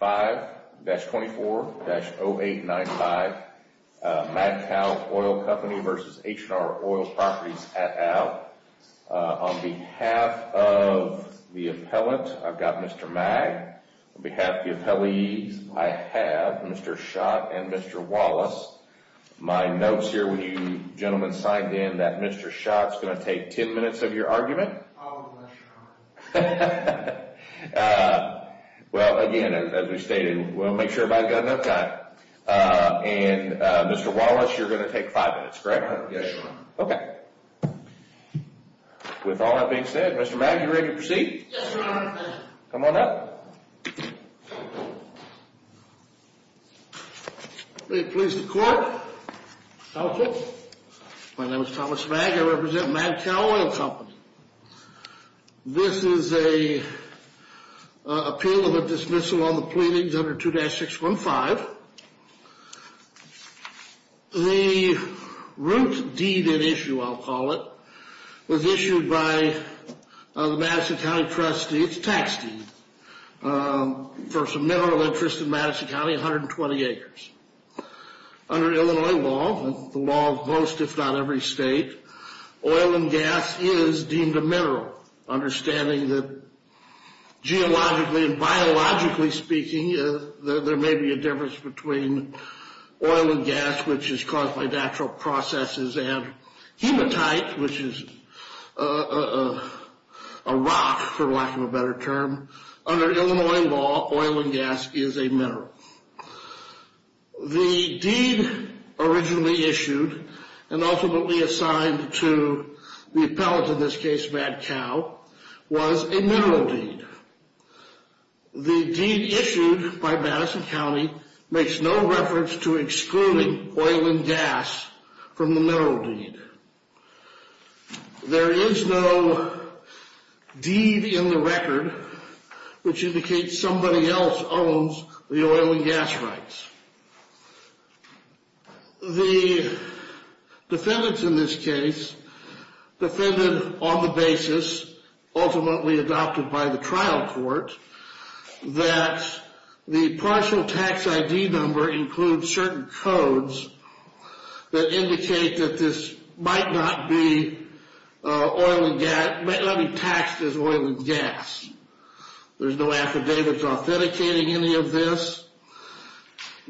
5-24-0895, Mad Cow Oil Company v. H&R Oil Properties, et al. On behalf of the appellant, I've got Mr. Magg. On behalf of the appellees, I have Mr. Schott and Mr. Wallace. My notes here, when you gentlemen signed in, that Mr. Schott's going to take 10 minutes of your argument. I'll have less time. Well, again, as we stated, we'll make sure everybody's got enough time. And Mr. Wallace, you're going to take five minutes, correct? Yes, Your Honor. Okay. With all that being said, Mr. Magg, you ready to proceed? Yes, Your Honor. Come on up. Pleased to court. Counsel. My name is Thomas Magg. I represent Mad Cow Oil Company. This is an appeal of a dismissal on the pleadings under 2-615. The root deed at issue, I'll call it, was issued by the Madison County trustee. It's a tax deed for some mineral interest in Madison County, 120 acres. Under Illinois law, the law of most, if not every state, oil and gas is deemed a mineral. Understanding that geologically and biologically speaking, there may be a difference between oil and gas, which is caused by natural processes, and hematite, which is a rock, for lack of a better term. Under Illinois law, oil and gas is a mineral. The deed originally issued and ultimately assigned to the appellate, in this case, Mad Cow, was a mineral deed. The deed issued by Madison County makes no reference to excluding oil and gas from the mineral deed. There is no deed in the record which indicates somebody else owns the oil and gas rights. The defendants in this case defended on the basis, ultimately adopted by the trial court, that the partial tax ID number includes certain codes that indicate that this might not be taxed as oil and gas. There's no affidavits authenticating any of this.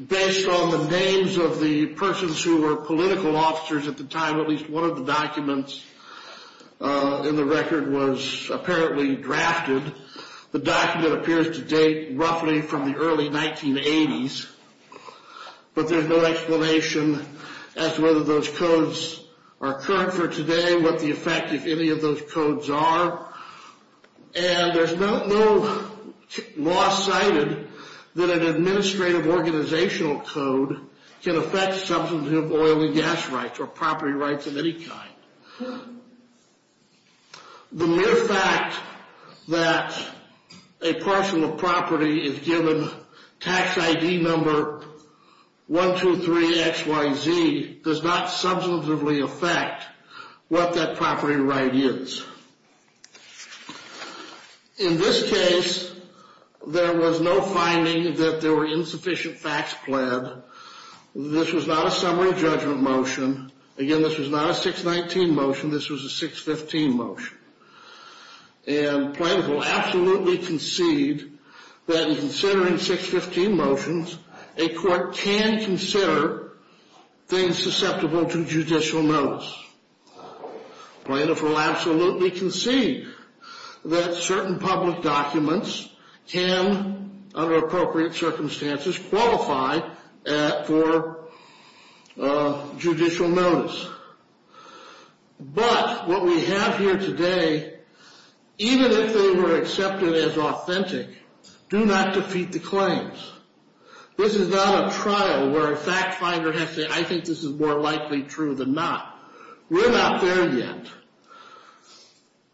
Based on the names of the persons who were political officers at the time, at least one of the documents in the record was apparently drafted. The document appears to date roughly from the early 1980s, but there's no explanation as to whether those codes are current for today, what the effect of any of those codes are, and there's no law cited that an administrative organizational code can affect someone who has oil and gas rights or property rights of any kind. The mere fact that a parcel of property is given tax ID number 123XYZ does not substantively affect what that property right is. In this case, there was no finding that there were insufficient facts pled. This was not a summary judgment motion. Again, this was not a 619 motion. This was a 615 motion. And plaintiff will absolutely concede that in considering 615 motions, a court can consider things susceptible to judicial notice. Plaintiff will absolutely concede that certain public documents can, under appropriate circumstances, qualify for judicial notice. But what we have here today, even if they were accepted as authentic, do not defeat the claims. This is not a trial where a fact finder has to say, I think this is more likely true than not. We're not there yet.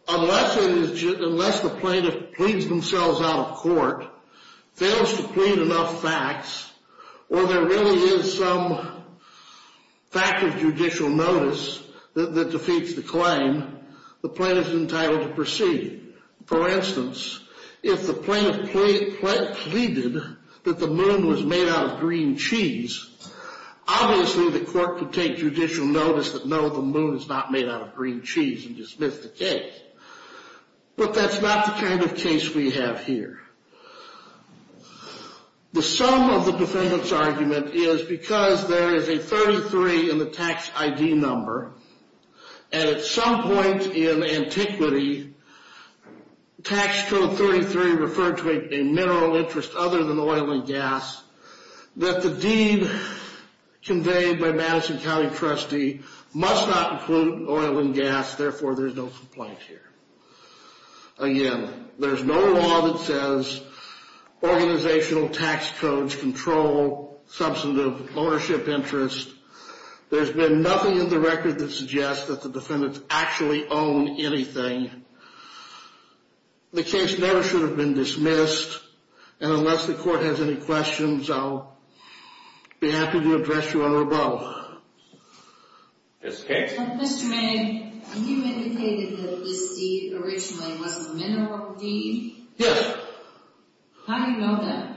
Unless the plaintiff pleads themselves out of court, fails to plead enough facts, or there really is some fact of judicial notice that defeats the claim, the plaintiff is entitled to proceed. For instance, if the plaintiff pleaded that the moon was made out of green cheese, obviously the court could take judicial notice that no, the moon is not made out of green cheese and dismiss the case. But that's not the kind of case we have here. The sum of the defendant's argument is because there is a 33 in the tax ID number, and at some point in antiquity tax code 33 referred to a mineral interest other than oil and gas, that the deed conveyed by Madison County trustee must not include oil and gas, therefore there is no complaint here. Again, there's no law that says organizational tax codes control substantive ownership interest. There's been nothing in the record that suggests that the defendants actually own anything. The case never should have been dismissed, and unless the court has any questions, I'll be happy to address you on rebuttal. Yes, Kate? Mr. Mayne, you indicated that this deed originally was a mineral deed? Yes. How do you know that?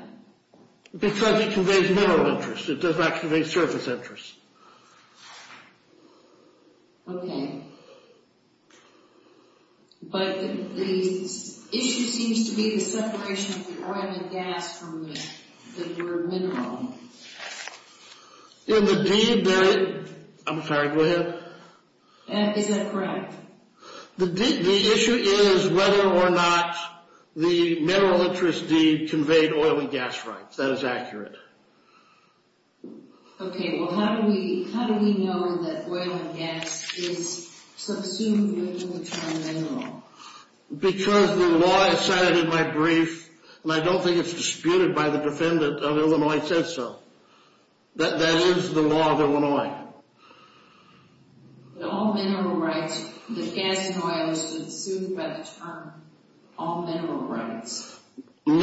Because it conveys mineral interest. It does not convey service interest. Okay. But the issue seems to be the separation of the oil and gas from the word mineral. In the deed there is... I'm sorry, go ahead. Is that correct? The issue is whether or not the mineral interest deed conveyed oil and gas rights. That is accurate. Okay, well how do we know that oil and gas is subsumed within the term mineral? Because the law I cited in my brief, and I don't think it's disputed by the defendant of Illinois, says so. That is the law of Illinois. All mineral rights, the gas and oil is subsumed by the term all mineral rights. Oil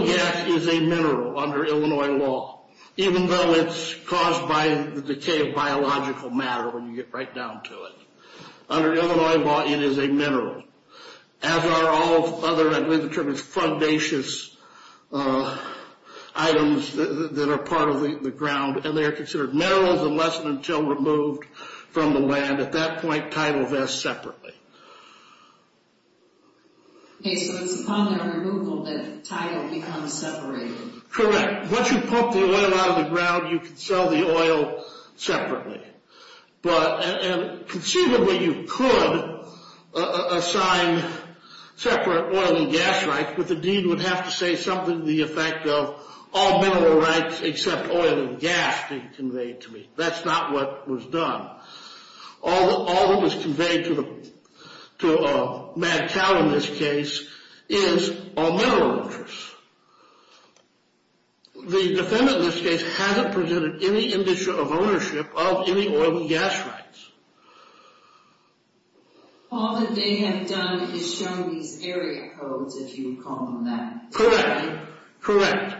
and gas is a mineral under Illinois law, even though it's caused by the decay of biological matter when you get right down to it. Under Illinois law, it is a mineral. As are all other, I believe the term is, fundacious items that are part of the ground. And they are considered minerals unless and until removed from the land. At that point, title vests separately. Okay, so it's upon their removal that title becomes separated. Correct. Once you pump the oil out of the ground, you can sell the oil separately. But, and conceivably you could assign separate oil and gas rights, but the deed would have to say something to the effect of all mineral rights except oil and gas being conveyed to me. That's not what was done. All that was conveyed to Mad Cow in this case is all mineral interests. The defendant in this case hasn't presented any indicia of ownership of any oil and gas rights. All that they have done is shown these area codes, if you would call them that. Correct, correct.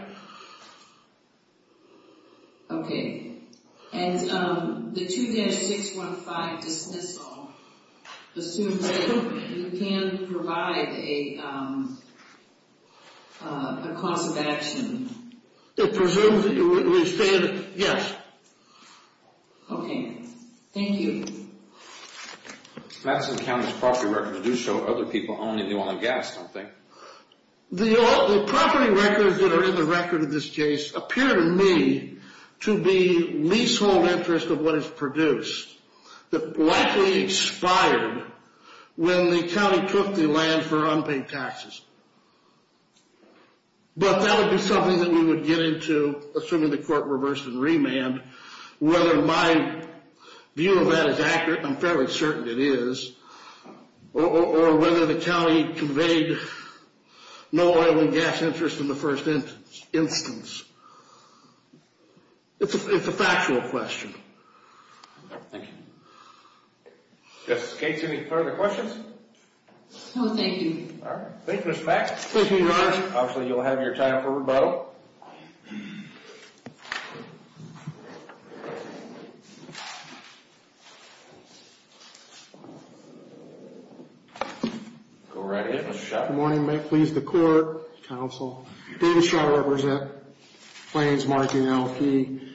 Okay, and the 2-615 dismissal assumes that you can provide a cause of action. It presumes that you would withstand, yes. Okay, thank you. Madison County's property records do show other people owning the oil and gas, don't they? The property records that are in the record of this case appear to me to be leasehold interest of what is produced. That likely expired when the county took the land for unpaid taxes. But that would be something that we would get into, assuming the court reversed and remanded, whether my view of that is accurate, I'm fairly certain it is. Or whether the county conveyed no oil and gas interest in the first instance. It's a factual question. Thank you. Justice Gates, any further questions? No, thank you. All right, thank you, Ms. Fax. Thank you, Your Honor. Obviously, you'll have your time for rebuttal. Go right ahead, Mr. Schott. Good morning. May it please the court, counsel. David Schott, I represent. My name is Martin Alfie.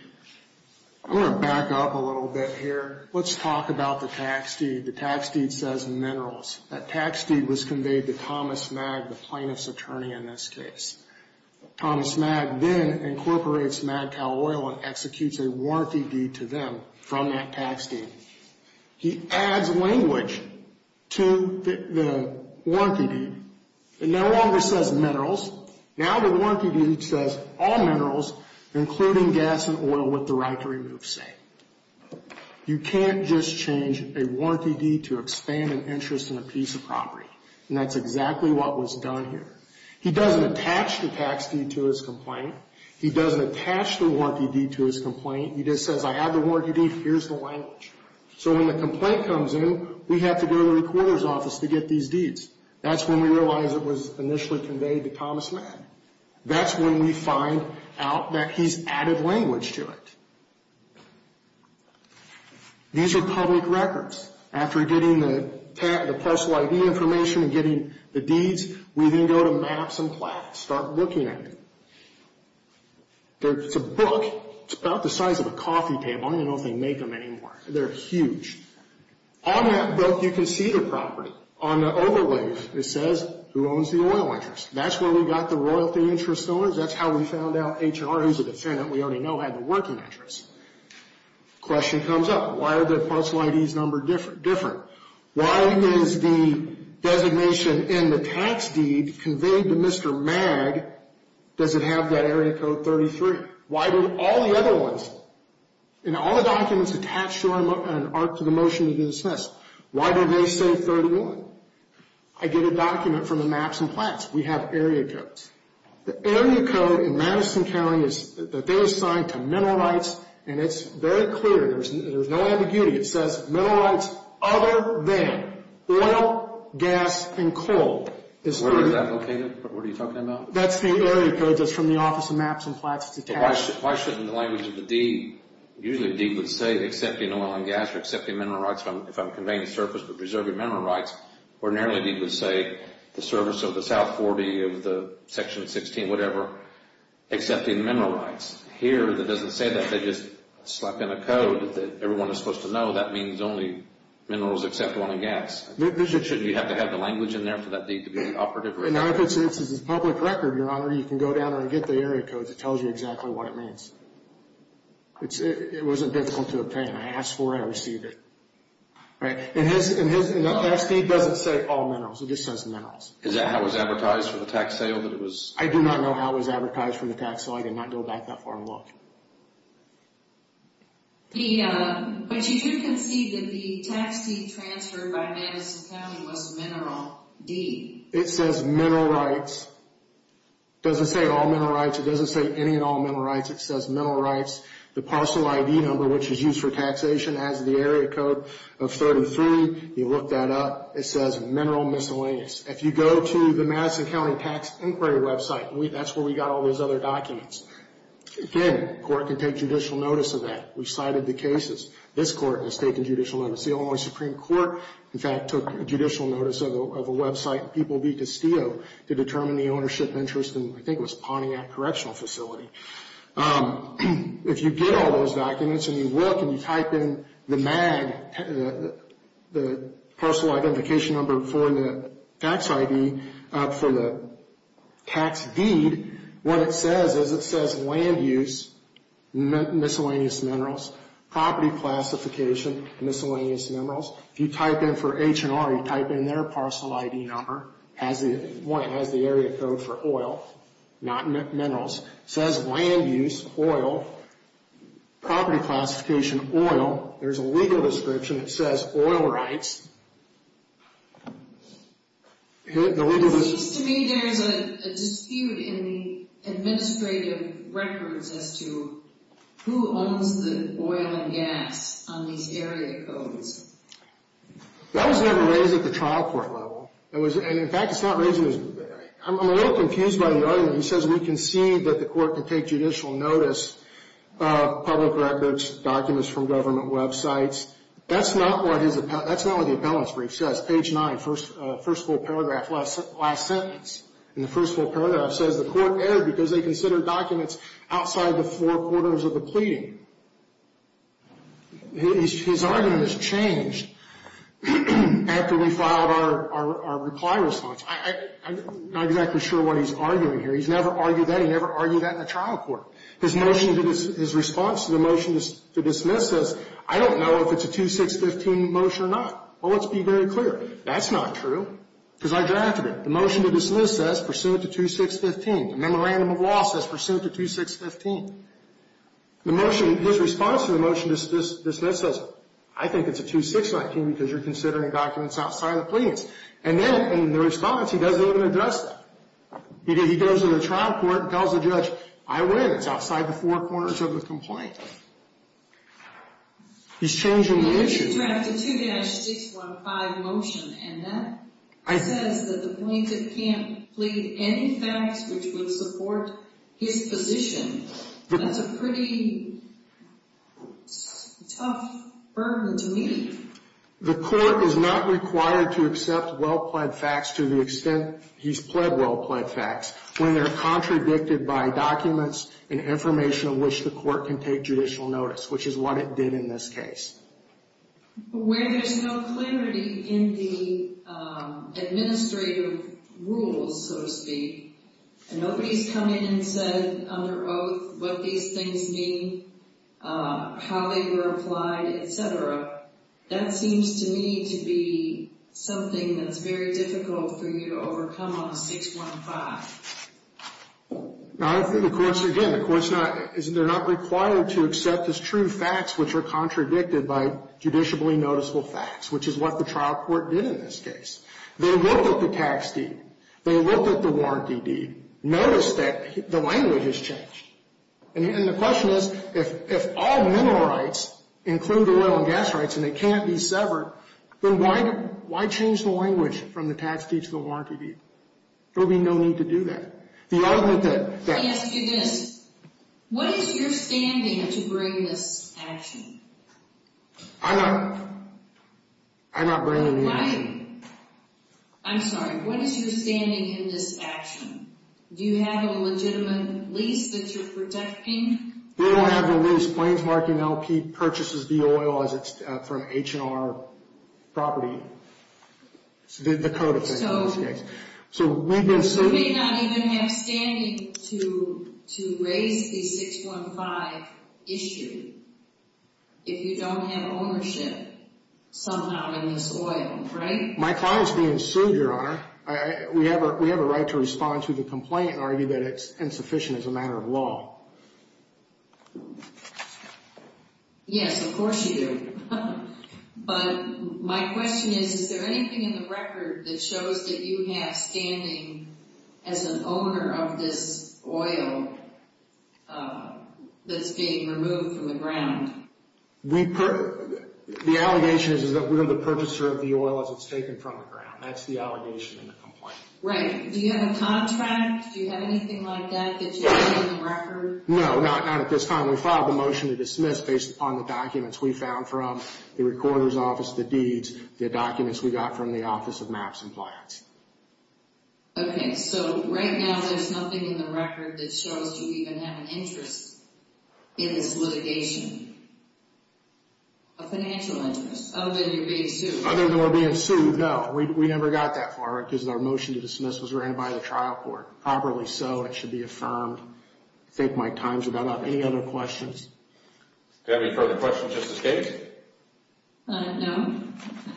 I'm going to back up a little bit here. Let's talk about the tax deed. The tax deed says minerals. That tax deed was conveyed to Thomas Magg, the plaintiff's attorney in this case. Thomas Magg then incorporates Magcal oil and executes a warranty deed to them from that tax deed. He adds language to the warranty deed. It no longer says minerals. Now the warranty deed says all minerals, including gas and oil, with the right to remove say. You can't just change a warranty deed to expand an interest in a piece of property. And that's exactly what was done here. He doesn't attach the tax deed to his complaint. He doesn't attach the warranty deed to his complaint. He just says, I have the warranty deed. Here's the language. So when the complaint comes in, we have to go to the recorder's office to get these deeds. That's when we realize it was initially conveyed to Thomas Magg. That's when we find out that he's added language to it. These are public records. After getting the parcel ID information and getting the deeds, we then go to maps and plaques, start looking at it. It's a book. It's about the size of a coffee table. I don't even know if they make them anymore. They're huge. On that book, you can see the property. On the overlay, it says who owns the oil interest. That's where we got the royalty interest owners. That's how we found out HR, who's a defendant we already know, had the working interest. Question comes up. Why are the parcel IDs numbered different? Why is the designation in the tax deed conveyed to Mr. Magg, does it have that area code 33? Why do all the other ones, in all the documents attached to an art to the motion to be dismissed, why do they say 31? I get a document from the maps and plaques. We have area codes. The area code in Madison County is that they assigned to mineral rights, and it's very clear. There's no ambiguity. It says mineral rights other than oil, gas, and coal. Where is that located? What are you talking about? That's the area code that's from the Office of Maps and Plaques. Why shouldn't the language of the deed, usually the deed would say accepting oil and gas or accepting mineral rights if I'm conveying the service but preserving mineral rights. Ordinarily, the deed would say the service of the South 40, of the Section 16, whatever, accepting mineral rights. Here, it doesn't say that. They just slap in a code that everyone is supposed to know that means only minerals except oil and gas. Shouldn't you have to have the language in there for that deed to be operative? If it's a public record, Your Honor, you can go down and get the area code that tells you exactly what it means. It wasn't difficult to obtain. I asked for it. I received it. The last deed doesn't say all minerals. It just says minerals. Is that how it was advertised for the tax sale? I do not know how it was advertised for the tax sale. I did not go back that far and look. But you do concede that the tax deed transferred by Madison County was mineral deed. It says mineral rights. It doesn't say all mineral rights. It doesn't say any and all mineral rights. It says mineral rights. The parcel ID number, which is used for taxation, has the area code of 33. You look that up. It says mineral miscellaneous. If you go to the Madison County Tax Inquiry website, that's where we got all those other documents. Again, court can take judicial notice of that. We cited the cases. This court has taken judicial notice. The Illinois Supreme Court, in fact, took judicial notice of a website, People v. Castillo, to determine the ownership interest in, I think it was Pontiac Correctional Facility. If you get all those documents and you look and you type in the MAG, the parcel identification number for the tax ID, for the tax deed, what it says is it says land use, miscellaneous minerals, property classification, miscellaneous minerals. If you type in for H&R, you type in their parcel ID number, it has the area code for oil, not minerals. It says land use, oil, property classification, oil. There's a legal description that says oil rights. It seems to me there's a dispute in the administrative records as to who owns the oil and gas on these area codes. That was never raised at the trial court level. In fact, it's not raised. I'm a little confused by the argument. He says we concede that the court can take judicial notice of public records, documents from government websites. That's not what the appellant's brief says. Page 9, first full paragraph, last sentence. In the first full paragraph, it says the court erred because they considered documents outside the four quarters of the pleading. His argument has changed after we filed our reply response. I'm not exactly sure what he's arguing here. He's never argued that. He never argued that in the trial court. His motion, his response to the motion to dismiss says I don't know if it's a 2-6-15 motion or not. Well, let's be very clear. That's not true because I drafted it. The motion to dismiss says pursuant to 2-6-15. The memorandum of law says pursuant to 2-6-15. The motion, his response to the motion to dismiss says I think it's a 2-6-19 because you're considering documents outside the pleadings. And then in the response, he doesn't even address that. He goes to the trial court and tells the judge, I win. It's outside the four corners of the complaint. He's changing the issue. He drafted a 2-6-15 motion, and that says that the plaintiff can't plead any facts which would support his position. That's a pretty tough burden to meet. The court is not required to accept well-pled facts to the extent he's pled well-pled facts when they're contradicted by documents and information of which the court can take judicial notice, which is what it did in this case. Where there's no clarity in the administrative rules, so to speak, and nobody's come in and said under oath what these things mean, how they were applied, et cetera, that seems to me to be something that's very difficult for you to overcome on a 6-1-5. Now, I think the court's, again, the court's not, they're not required to accept as true facts which are contradicted by judicially noticeable facts, which is what the trial court did in this case. They looked at the tax deed. They looked at the warranty deed. Noticed that the language has changed. And the question is, if all mineral rights include oil and gas rights and they can't be severed, then why change the language from the tax deed to the warranty deed? There would be no need to do that. The argument that... Let me ask you this. What is your standing to bring this action? I'm not bringing the action. I'm sorry. What is your standing in this action? Do you have a legitimate lease that you're protecting? We don't have a lease. Plains Market and LP purchases the oil as it's from H&R property, the code of things in this case. So we've been sued. You may not even have standing to raise the 6-1-5 issue if you don't have ownership somehow in this oil, right? My client's being sued, Your Honor. We have a right to respond to the complaint and argue that it's insufficient as a matter of law. Yes, of course you do. But my question is, is there anything in the record that shows that you have standing as an owner of this oil that's being removed from the ground? The allegation is that we're the purchaser of the oil as it's taken from the ground. That's the allegation in the complaint. Right. Do you have a contract? Do you have anything like that that you have in the record? No, not at this time. We filed a motion to dismiss based upon the documents we found from the recorder's office, the deeds, the documents we got from the Office of Maps and Plans. Okay. So right now there's nothing in the record that shows you even have an interest in this litigation, a financial interest, other than you're being sued? Other than we're being sued, no. We never got that far because our motion to dismiss was ran by the trial court. Properly so, it should be affirmed. I think my time's about up. Any other questions? Do we have any further questions, Justice Gaines? No.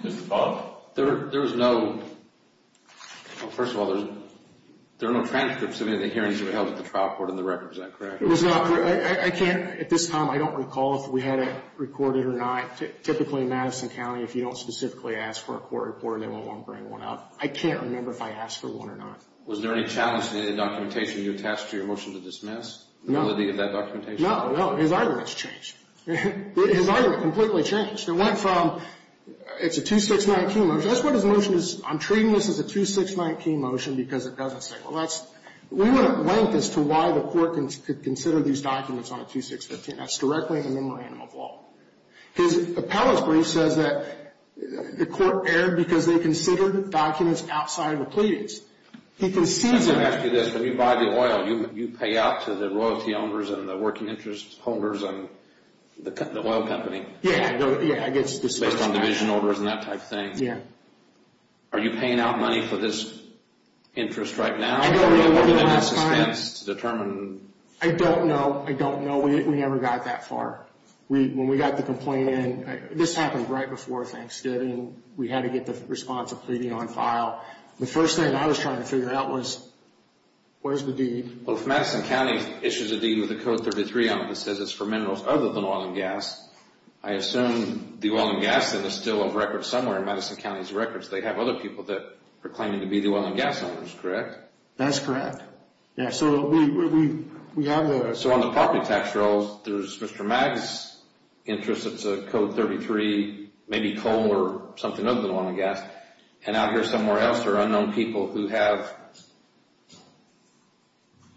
Just a follow-up? There was no – well, first of all, there are no transcripts of any of the hearings that were held at the trial court in the record. Is that correct? I can't – at this time I don't recall if we had it recorded or not. Typically in Madison County, if you don't specifically ask for a court report, they won't bring one up. I can't remember if I asked for one or not. Was there any challenge to any of the documentation you attached to your motion to dismiss? No. The validity of that documentation? No, no. His argument's changed. His argument completely changed. It went from – it's a 2619 motion. That's what his motion is. I'm treating this as a 2619 motion because it doesn't say – well, that's – we wouldn't link as to why the court could consider these documents on a 2615. That's directly in the memorandum of law. His appellate's brief says that the court erred because they considered documents outside of the pleadings. He concedes – I'm going to ask you this. When you buy the oil, you pay out to the royalty owners and the working interest holders and the oil company. Yeah. Based on division orders and that type of thing? Yeah. Are you paying out money for this interest right now? I don't remember the last time. Or are you looking at this expense to determine – I don't know. I don't know. We never got that far. When we got the complaint in – this happened right before Thanksgiving. We had to get the response of pleading on file. The first thing I was trying to figure out was where's the deed? Well, if Madison County issues a deed with a Code 33 on it that says it's for minerals other than oil and gas, I assume the oil and gas is still a record somewhere in Madison County's records. They have other people that are claiming to be the oil and gas owners, correct? That's correct. Yeah, so we have the – So on the property tax rolls, there's Mr. Magg's interest. It's a Code 33, maybe coal or something other than oil and gas. And out here somewhere else, there are unknown people who have,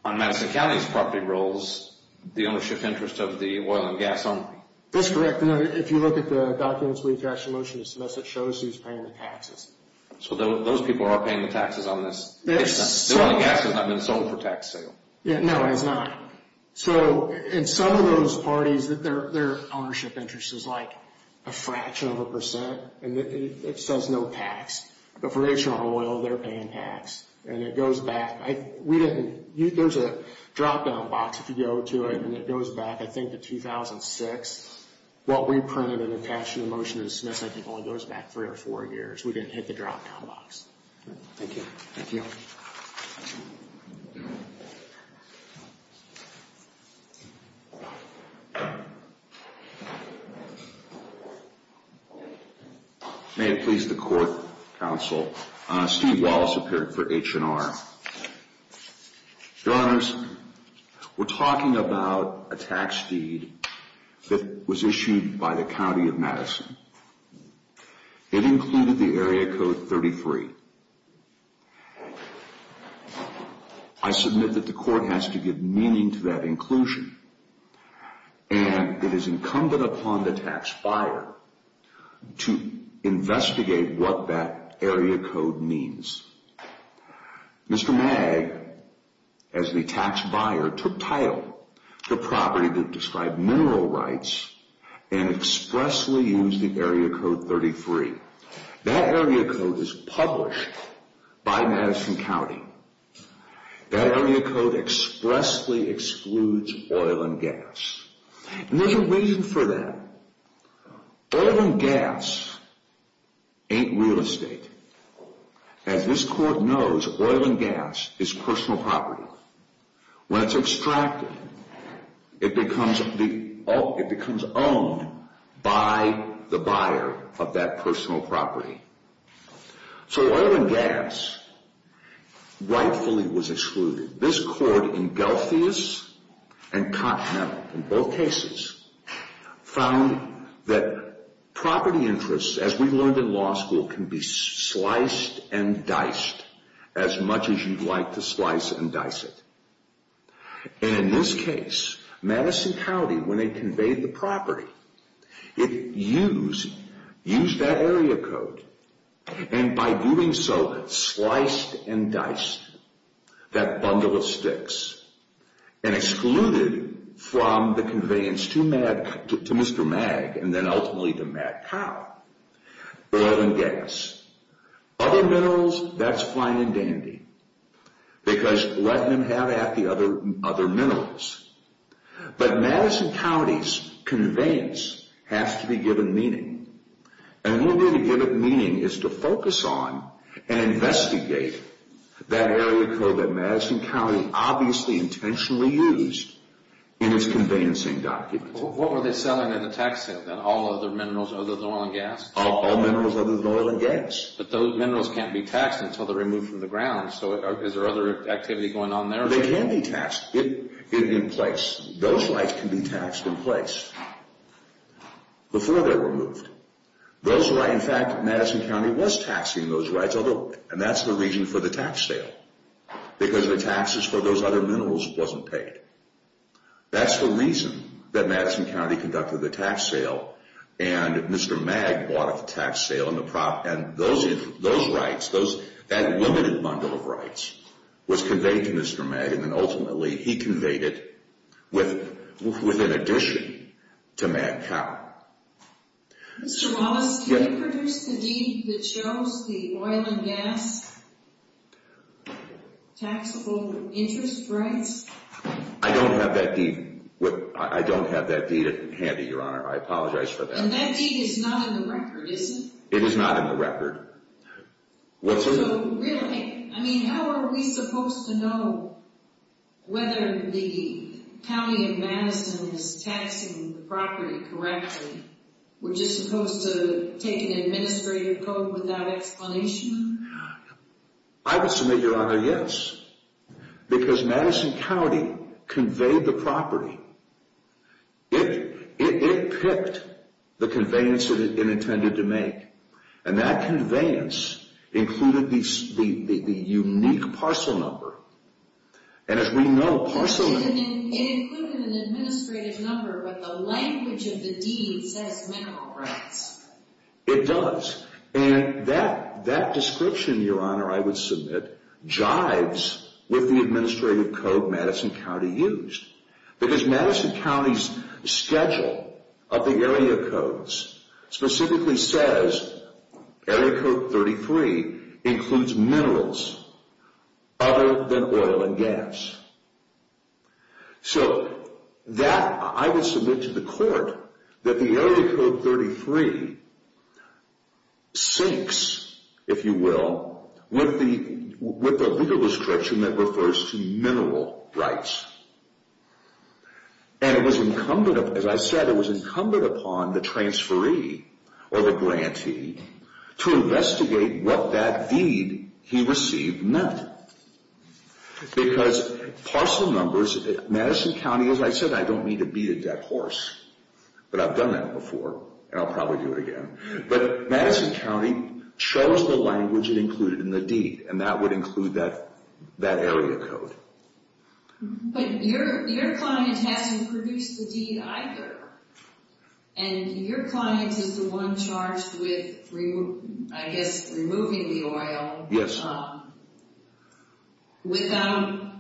on Madison County's property rolls, the ownership interest of the oil and gas owner. That's correct. If you look at the documents we attached to motion to submit, it shows who's paying the taxes. So those people are paying the taxes on this? The oil and gas has not been sold for tax sale. No, it has not. So in some of those parties, their ownership interest is like a fraction of a percent, and it says no tax. But for H&R Oil, they're paying tax, and it goes back. There's a drop-down box if you go to it, and it goes back, I think, to 2006. What we printed and attached to the motion to submit, I think, only goes back three or four years. We didn't hit the drop-down box. Thank you. Thank you. May it please the Court, Counsel, Steve Wallace, a parent for H&R. Your Honors, we're talking about a tax deed that was issued by the County of Madison. It included the Area Code 33. I submit that the Court has to give meaning to that inclusion, and it is incumbent upon the tax buyer to investigate what that Area Code means. Mr. Mag, as the tax buyer, took title to property that described mineral rights and expressly used the Area Code 33. That Area Code is published by Madison County. That Area Code expressly excludes oil and gas. And there's a reason for that. Oil and gas ain't real estate. As this Court knows, oil and gas is personal property. When it's extracted, it becomes owned by the buyer of that personal property. So oil and gas rightfully was excluded. This Court, in Gelfius and Continental, in both cases, found that property interests, as we learned in law school, can be sliced and diced as much as you'd like to slice and dice it. And in this case, Madison County, when they conveyed the property, it used that Area Code. And by doing so, it sliced and diced that bundle of sticks and excluded from the conveyance to Mr. Mag and then ultimately to Matt Powell, oil and gas. Other minerals, that's fine and dandy because let them have at the other minerals. But Madison County's conveyance has to be given meaning. And the only way to give it meaning is to focus on and investigate that Area Code that Madison County obviously intentionally used in its conveyancing documents. What were they selling in the tax sale then? All other minerals other than oil and gas? All minerals other than oil and gas. But those minerals can't be taxed until they're removed from the ground. So is there other activity going on there? They can be taxed in place. Those rights can be taxed in place before they're removed. In fact, Madison County was taxing those rights, and that's the reason for the tax sale because the taxes for those other minerals wasn't paid. That's the reason that Madison County conducted the tax sale and Mr. Mag bought a tax sale and those rights, that limited bundle of rights was conveyed to Mr. Mag and then ultimately he conveyed it with an addition to Matt Powell. Mr. Wallace, can you produce the deed that shows the oil and gas taxable interest rights? I don't have that deed handy, Your Honor. I apologize for that. And that deed is not in the record, is it? It is not in the record. So really, I mean, how are we supposed to know whether the county of Madison is taxing the property correctly? We're just supposed to take an administrative code without explanation? I would submit, Your Honor, yes, because Madison County conveyed the property. It picked the conveyance that it intended to make, and that conveyance included the unique parcel number. And as we know, parcel number... It included an administrative number, but the language of the deed says mineral rights. It does. And that description, Your Honor, I would submit, jives with the administrative code Madison County used because Madison County's schedule of the area codes specifically says area code 33 includes minerals other than oil and gas. So that, I would submit to the court that the area code 33 syncs, if you will, with the legal description that refers to mineral rights. And it was incumbent, as I said, it was incumbent upon the transferee or the grantee to investigate what that deed he received meant. Because parcel numbers, Madison County, as I said, I don't mean to beat a dead horse, but I've done that before, and I'll probably do it again. But Madison County chose the language it included in the deed, and that would include that area code. But your client hasn't produced the deed either. And your client is the one charged with, I guess, removing the oil... Yes. ...without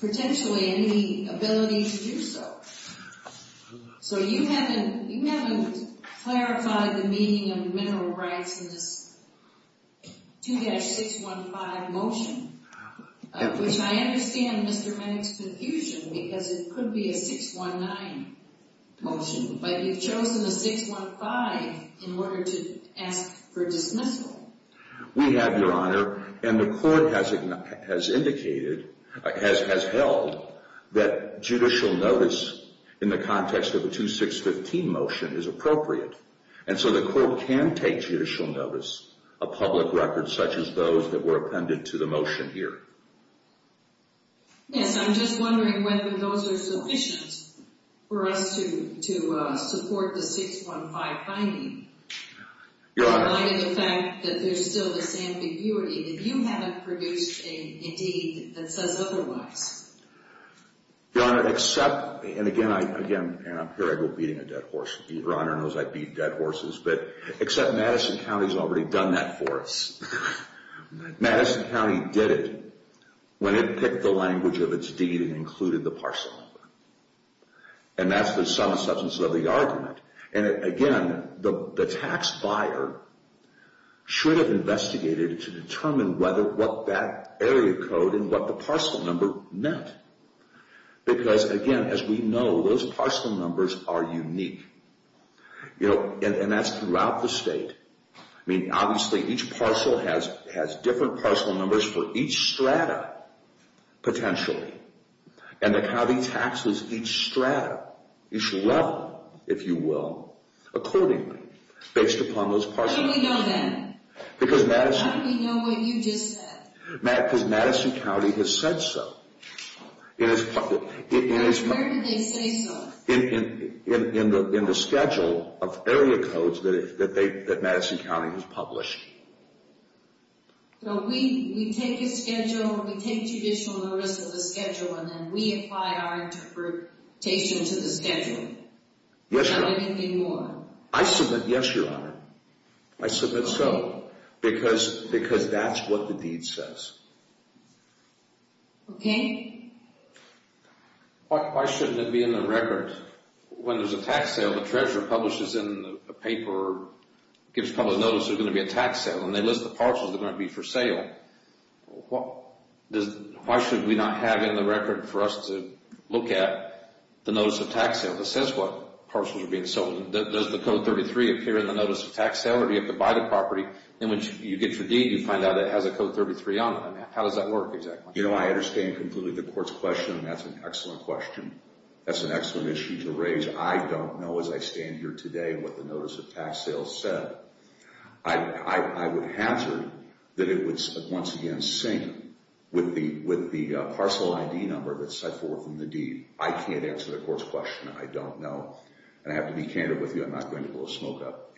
potentially any ability to do so. So you haven't clarified the meaning of mineral rights in this 2-615 motion. Which I understand Mr. Manning's confusion because it could be a 619 motion, but you've chosen a 615 in order to ask for dismissal. We have, Your Honor, and the court has indicated, has held, that judicial notice in the context of a 2-615 motion is appropriate. And so the court can take judicial notice of public records such as those that were appended to the motion here. Yes. I'm just wondering whether those are sufficient for us to support the 615 finding... Your Honor. ...in light of the fact that there's still this ambiguity, that you haven't produced a deed that says otherwise. Your Honor, except, and again, here I go beating a dead horse. Your Honor knows I beat dead horses. But except Madison County's already done that for us. Madison County did it when it picked the language of its deed and included the parcel number. And that's the sum and substance of the argument. And, again, the tax buyer should have investigated to determine what that area code and what the parcel number meant. Because, again, as we know, those parcel numbers are unique. And that's throughout the state. I mean, obviously, each parcel has different parcel numbers for each strata, potentially. And the county taxes each strata, each level, if you will, accordingly based upon those parcel numbers. How do we know that? Because Madison... How do we know what you just said? Because Madison County has said so. Where did they say so? In the schedule of area codes that Madison County has published. So we take a schedule, we take judicial notice of the schedule, and then we apply our interpretation to the schedule? Yes, Your Honor. Not anything more? I submit yes, Your Honor. I submit so. Because that's what the deed says. Okay. Why shouldn't it be in the record? When there's a tax sale, the treasurer publishes in the paper, gives public notice there's going to be a tax sale, and they list the parcels that are going to be for sale. Why should we not have in the record for us to look at the notice of tax sale that says what parcels are being sold? Does the Code 33 appear in the notice of tax sale, or do you have to buy the property? And when you get your deed, you find out it has a Code 33 on it. How does that work exactly? You know, I understand completely the Court's question, and that's an excellent question. That's an excellent issue to raise. I don't know as I stand here today what the notice of tax sale said. I would hazard that it would once again sync with the parcel ID number that's set forth in the deed. I can't answer the Court's question. I don't know. And I have to be candid with you, I'm not going to blow smoke at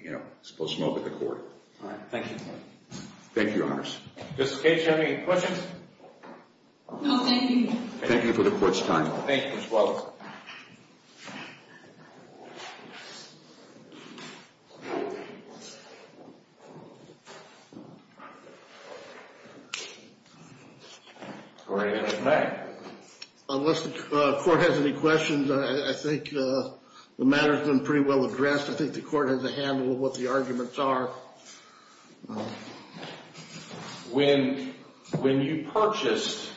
the Court. All right. Thank you. Thank you, Your Honors. Mr. Cage, do you have any questions? No, thank you. Thank you for the Court's time. Thank you as well. All right. Any questions? Unless the Court has any questions, I think the matter has been pretty well addressed. I think the Court has a handle on what the arguments are. When you purchased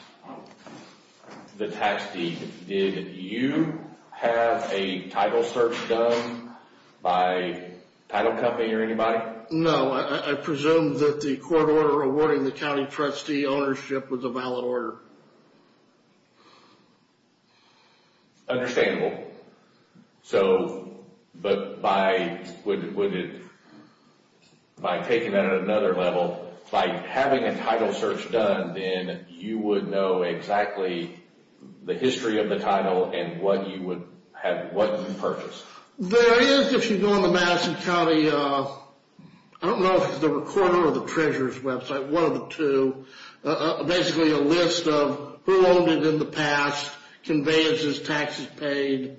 the tax deed, did you have a title search done by title company or anybody? No. I presume that the court order awarding the county trustee ownership was a valid order. Understandable. But by taking that at another level, by having a title search done, then you would know exactly the history of the title and what you purchased. There is, if you go on the Madison County, I don't know if it's the recorder or the treasurer's website, one of the two, basically a list of who owned it in the past, conveyances, taxes paid,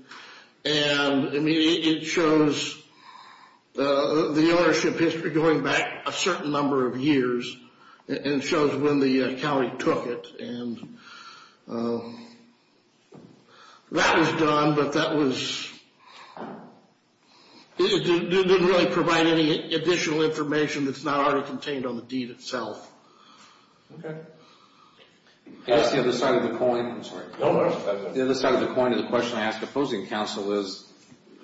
and it shows the ownership history going back a certain number of years and shows when the county took it. That was done, but that didn't really provide any additional information that's not already contained on the deed itself. Okay. Can I ask the other side of the coin? I'm sorry. The other side of the coin of the question I ask opposing counsel is,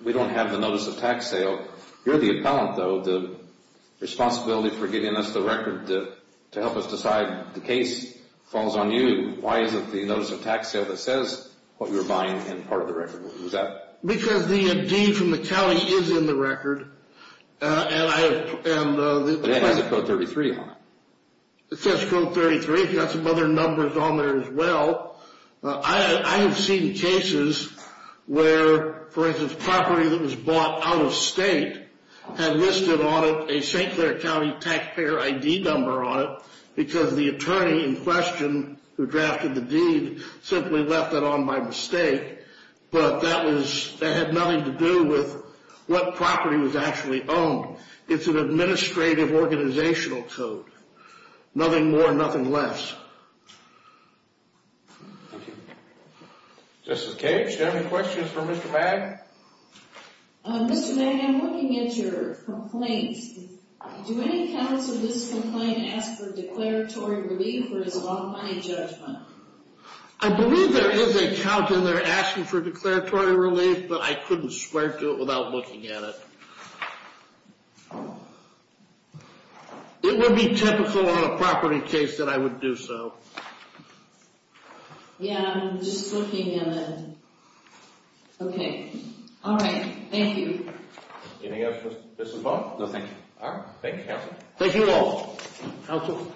we don't have the notice of tax sale. You're the appellant, though. The responsibility for giving us the record to help us decide the case falls on you. Why isn't the notice of tax sale that says what you're buying in part of the record? Because the deed from the county is in the record, and it has a Code 33 on it. It says Code 33. It's got some other numbers on there as well. I have seen cases where, for instance, property that was bought out of state had listed on it a St. Clair County taxpayer ID number on it, because the attorney in question who drafted the deed simply left it on by mistake, but that had nothing to do with what property was actually owned. It's an administrative organizational code. Nothing more, nothing less. Thank you. Justice Cage, do you have any questions for Mr. Magg? Mr. Magg, I'm looking at your complaint. Do any accounts of this complaint ask for declaratory relief, or is it all money judgment? I believe there is an account, and they're asking for declaratory relief, but I couldn't swear to it without looking at it. It would be typical on a property case that I would do so. Yeah, I'm just looking at it. Okay. All right. Thank you. Anything else for Mr. Magg? No, thank you. All right. Thank you, counsel. Thank you all. Counsel?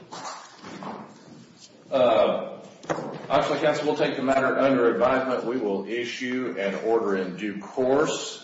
Actually, counsel, we'll take the matter under advisement. We will issue an order in due course.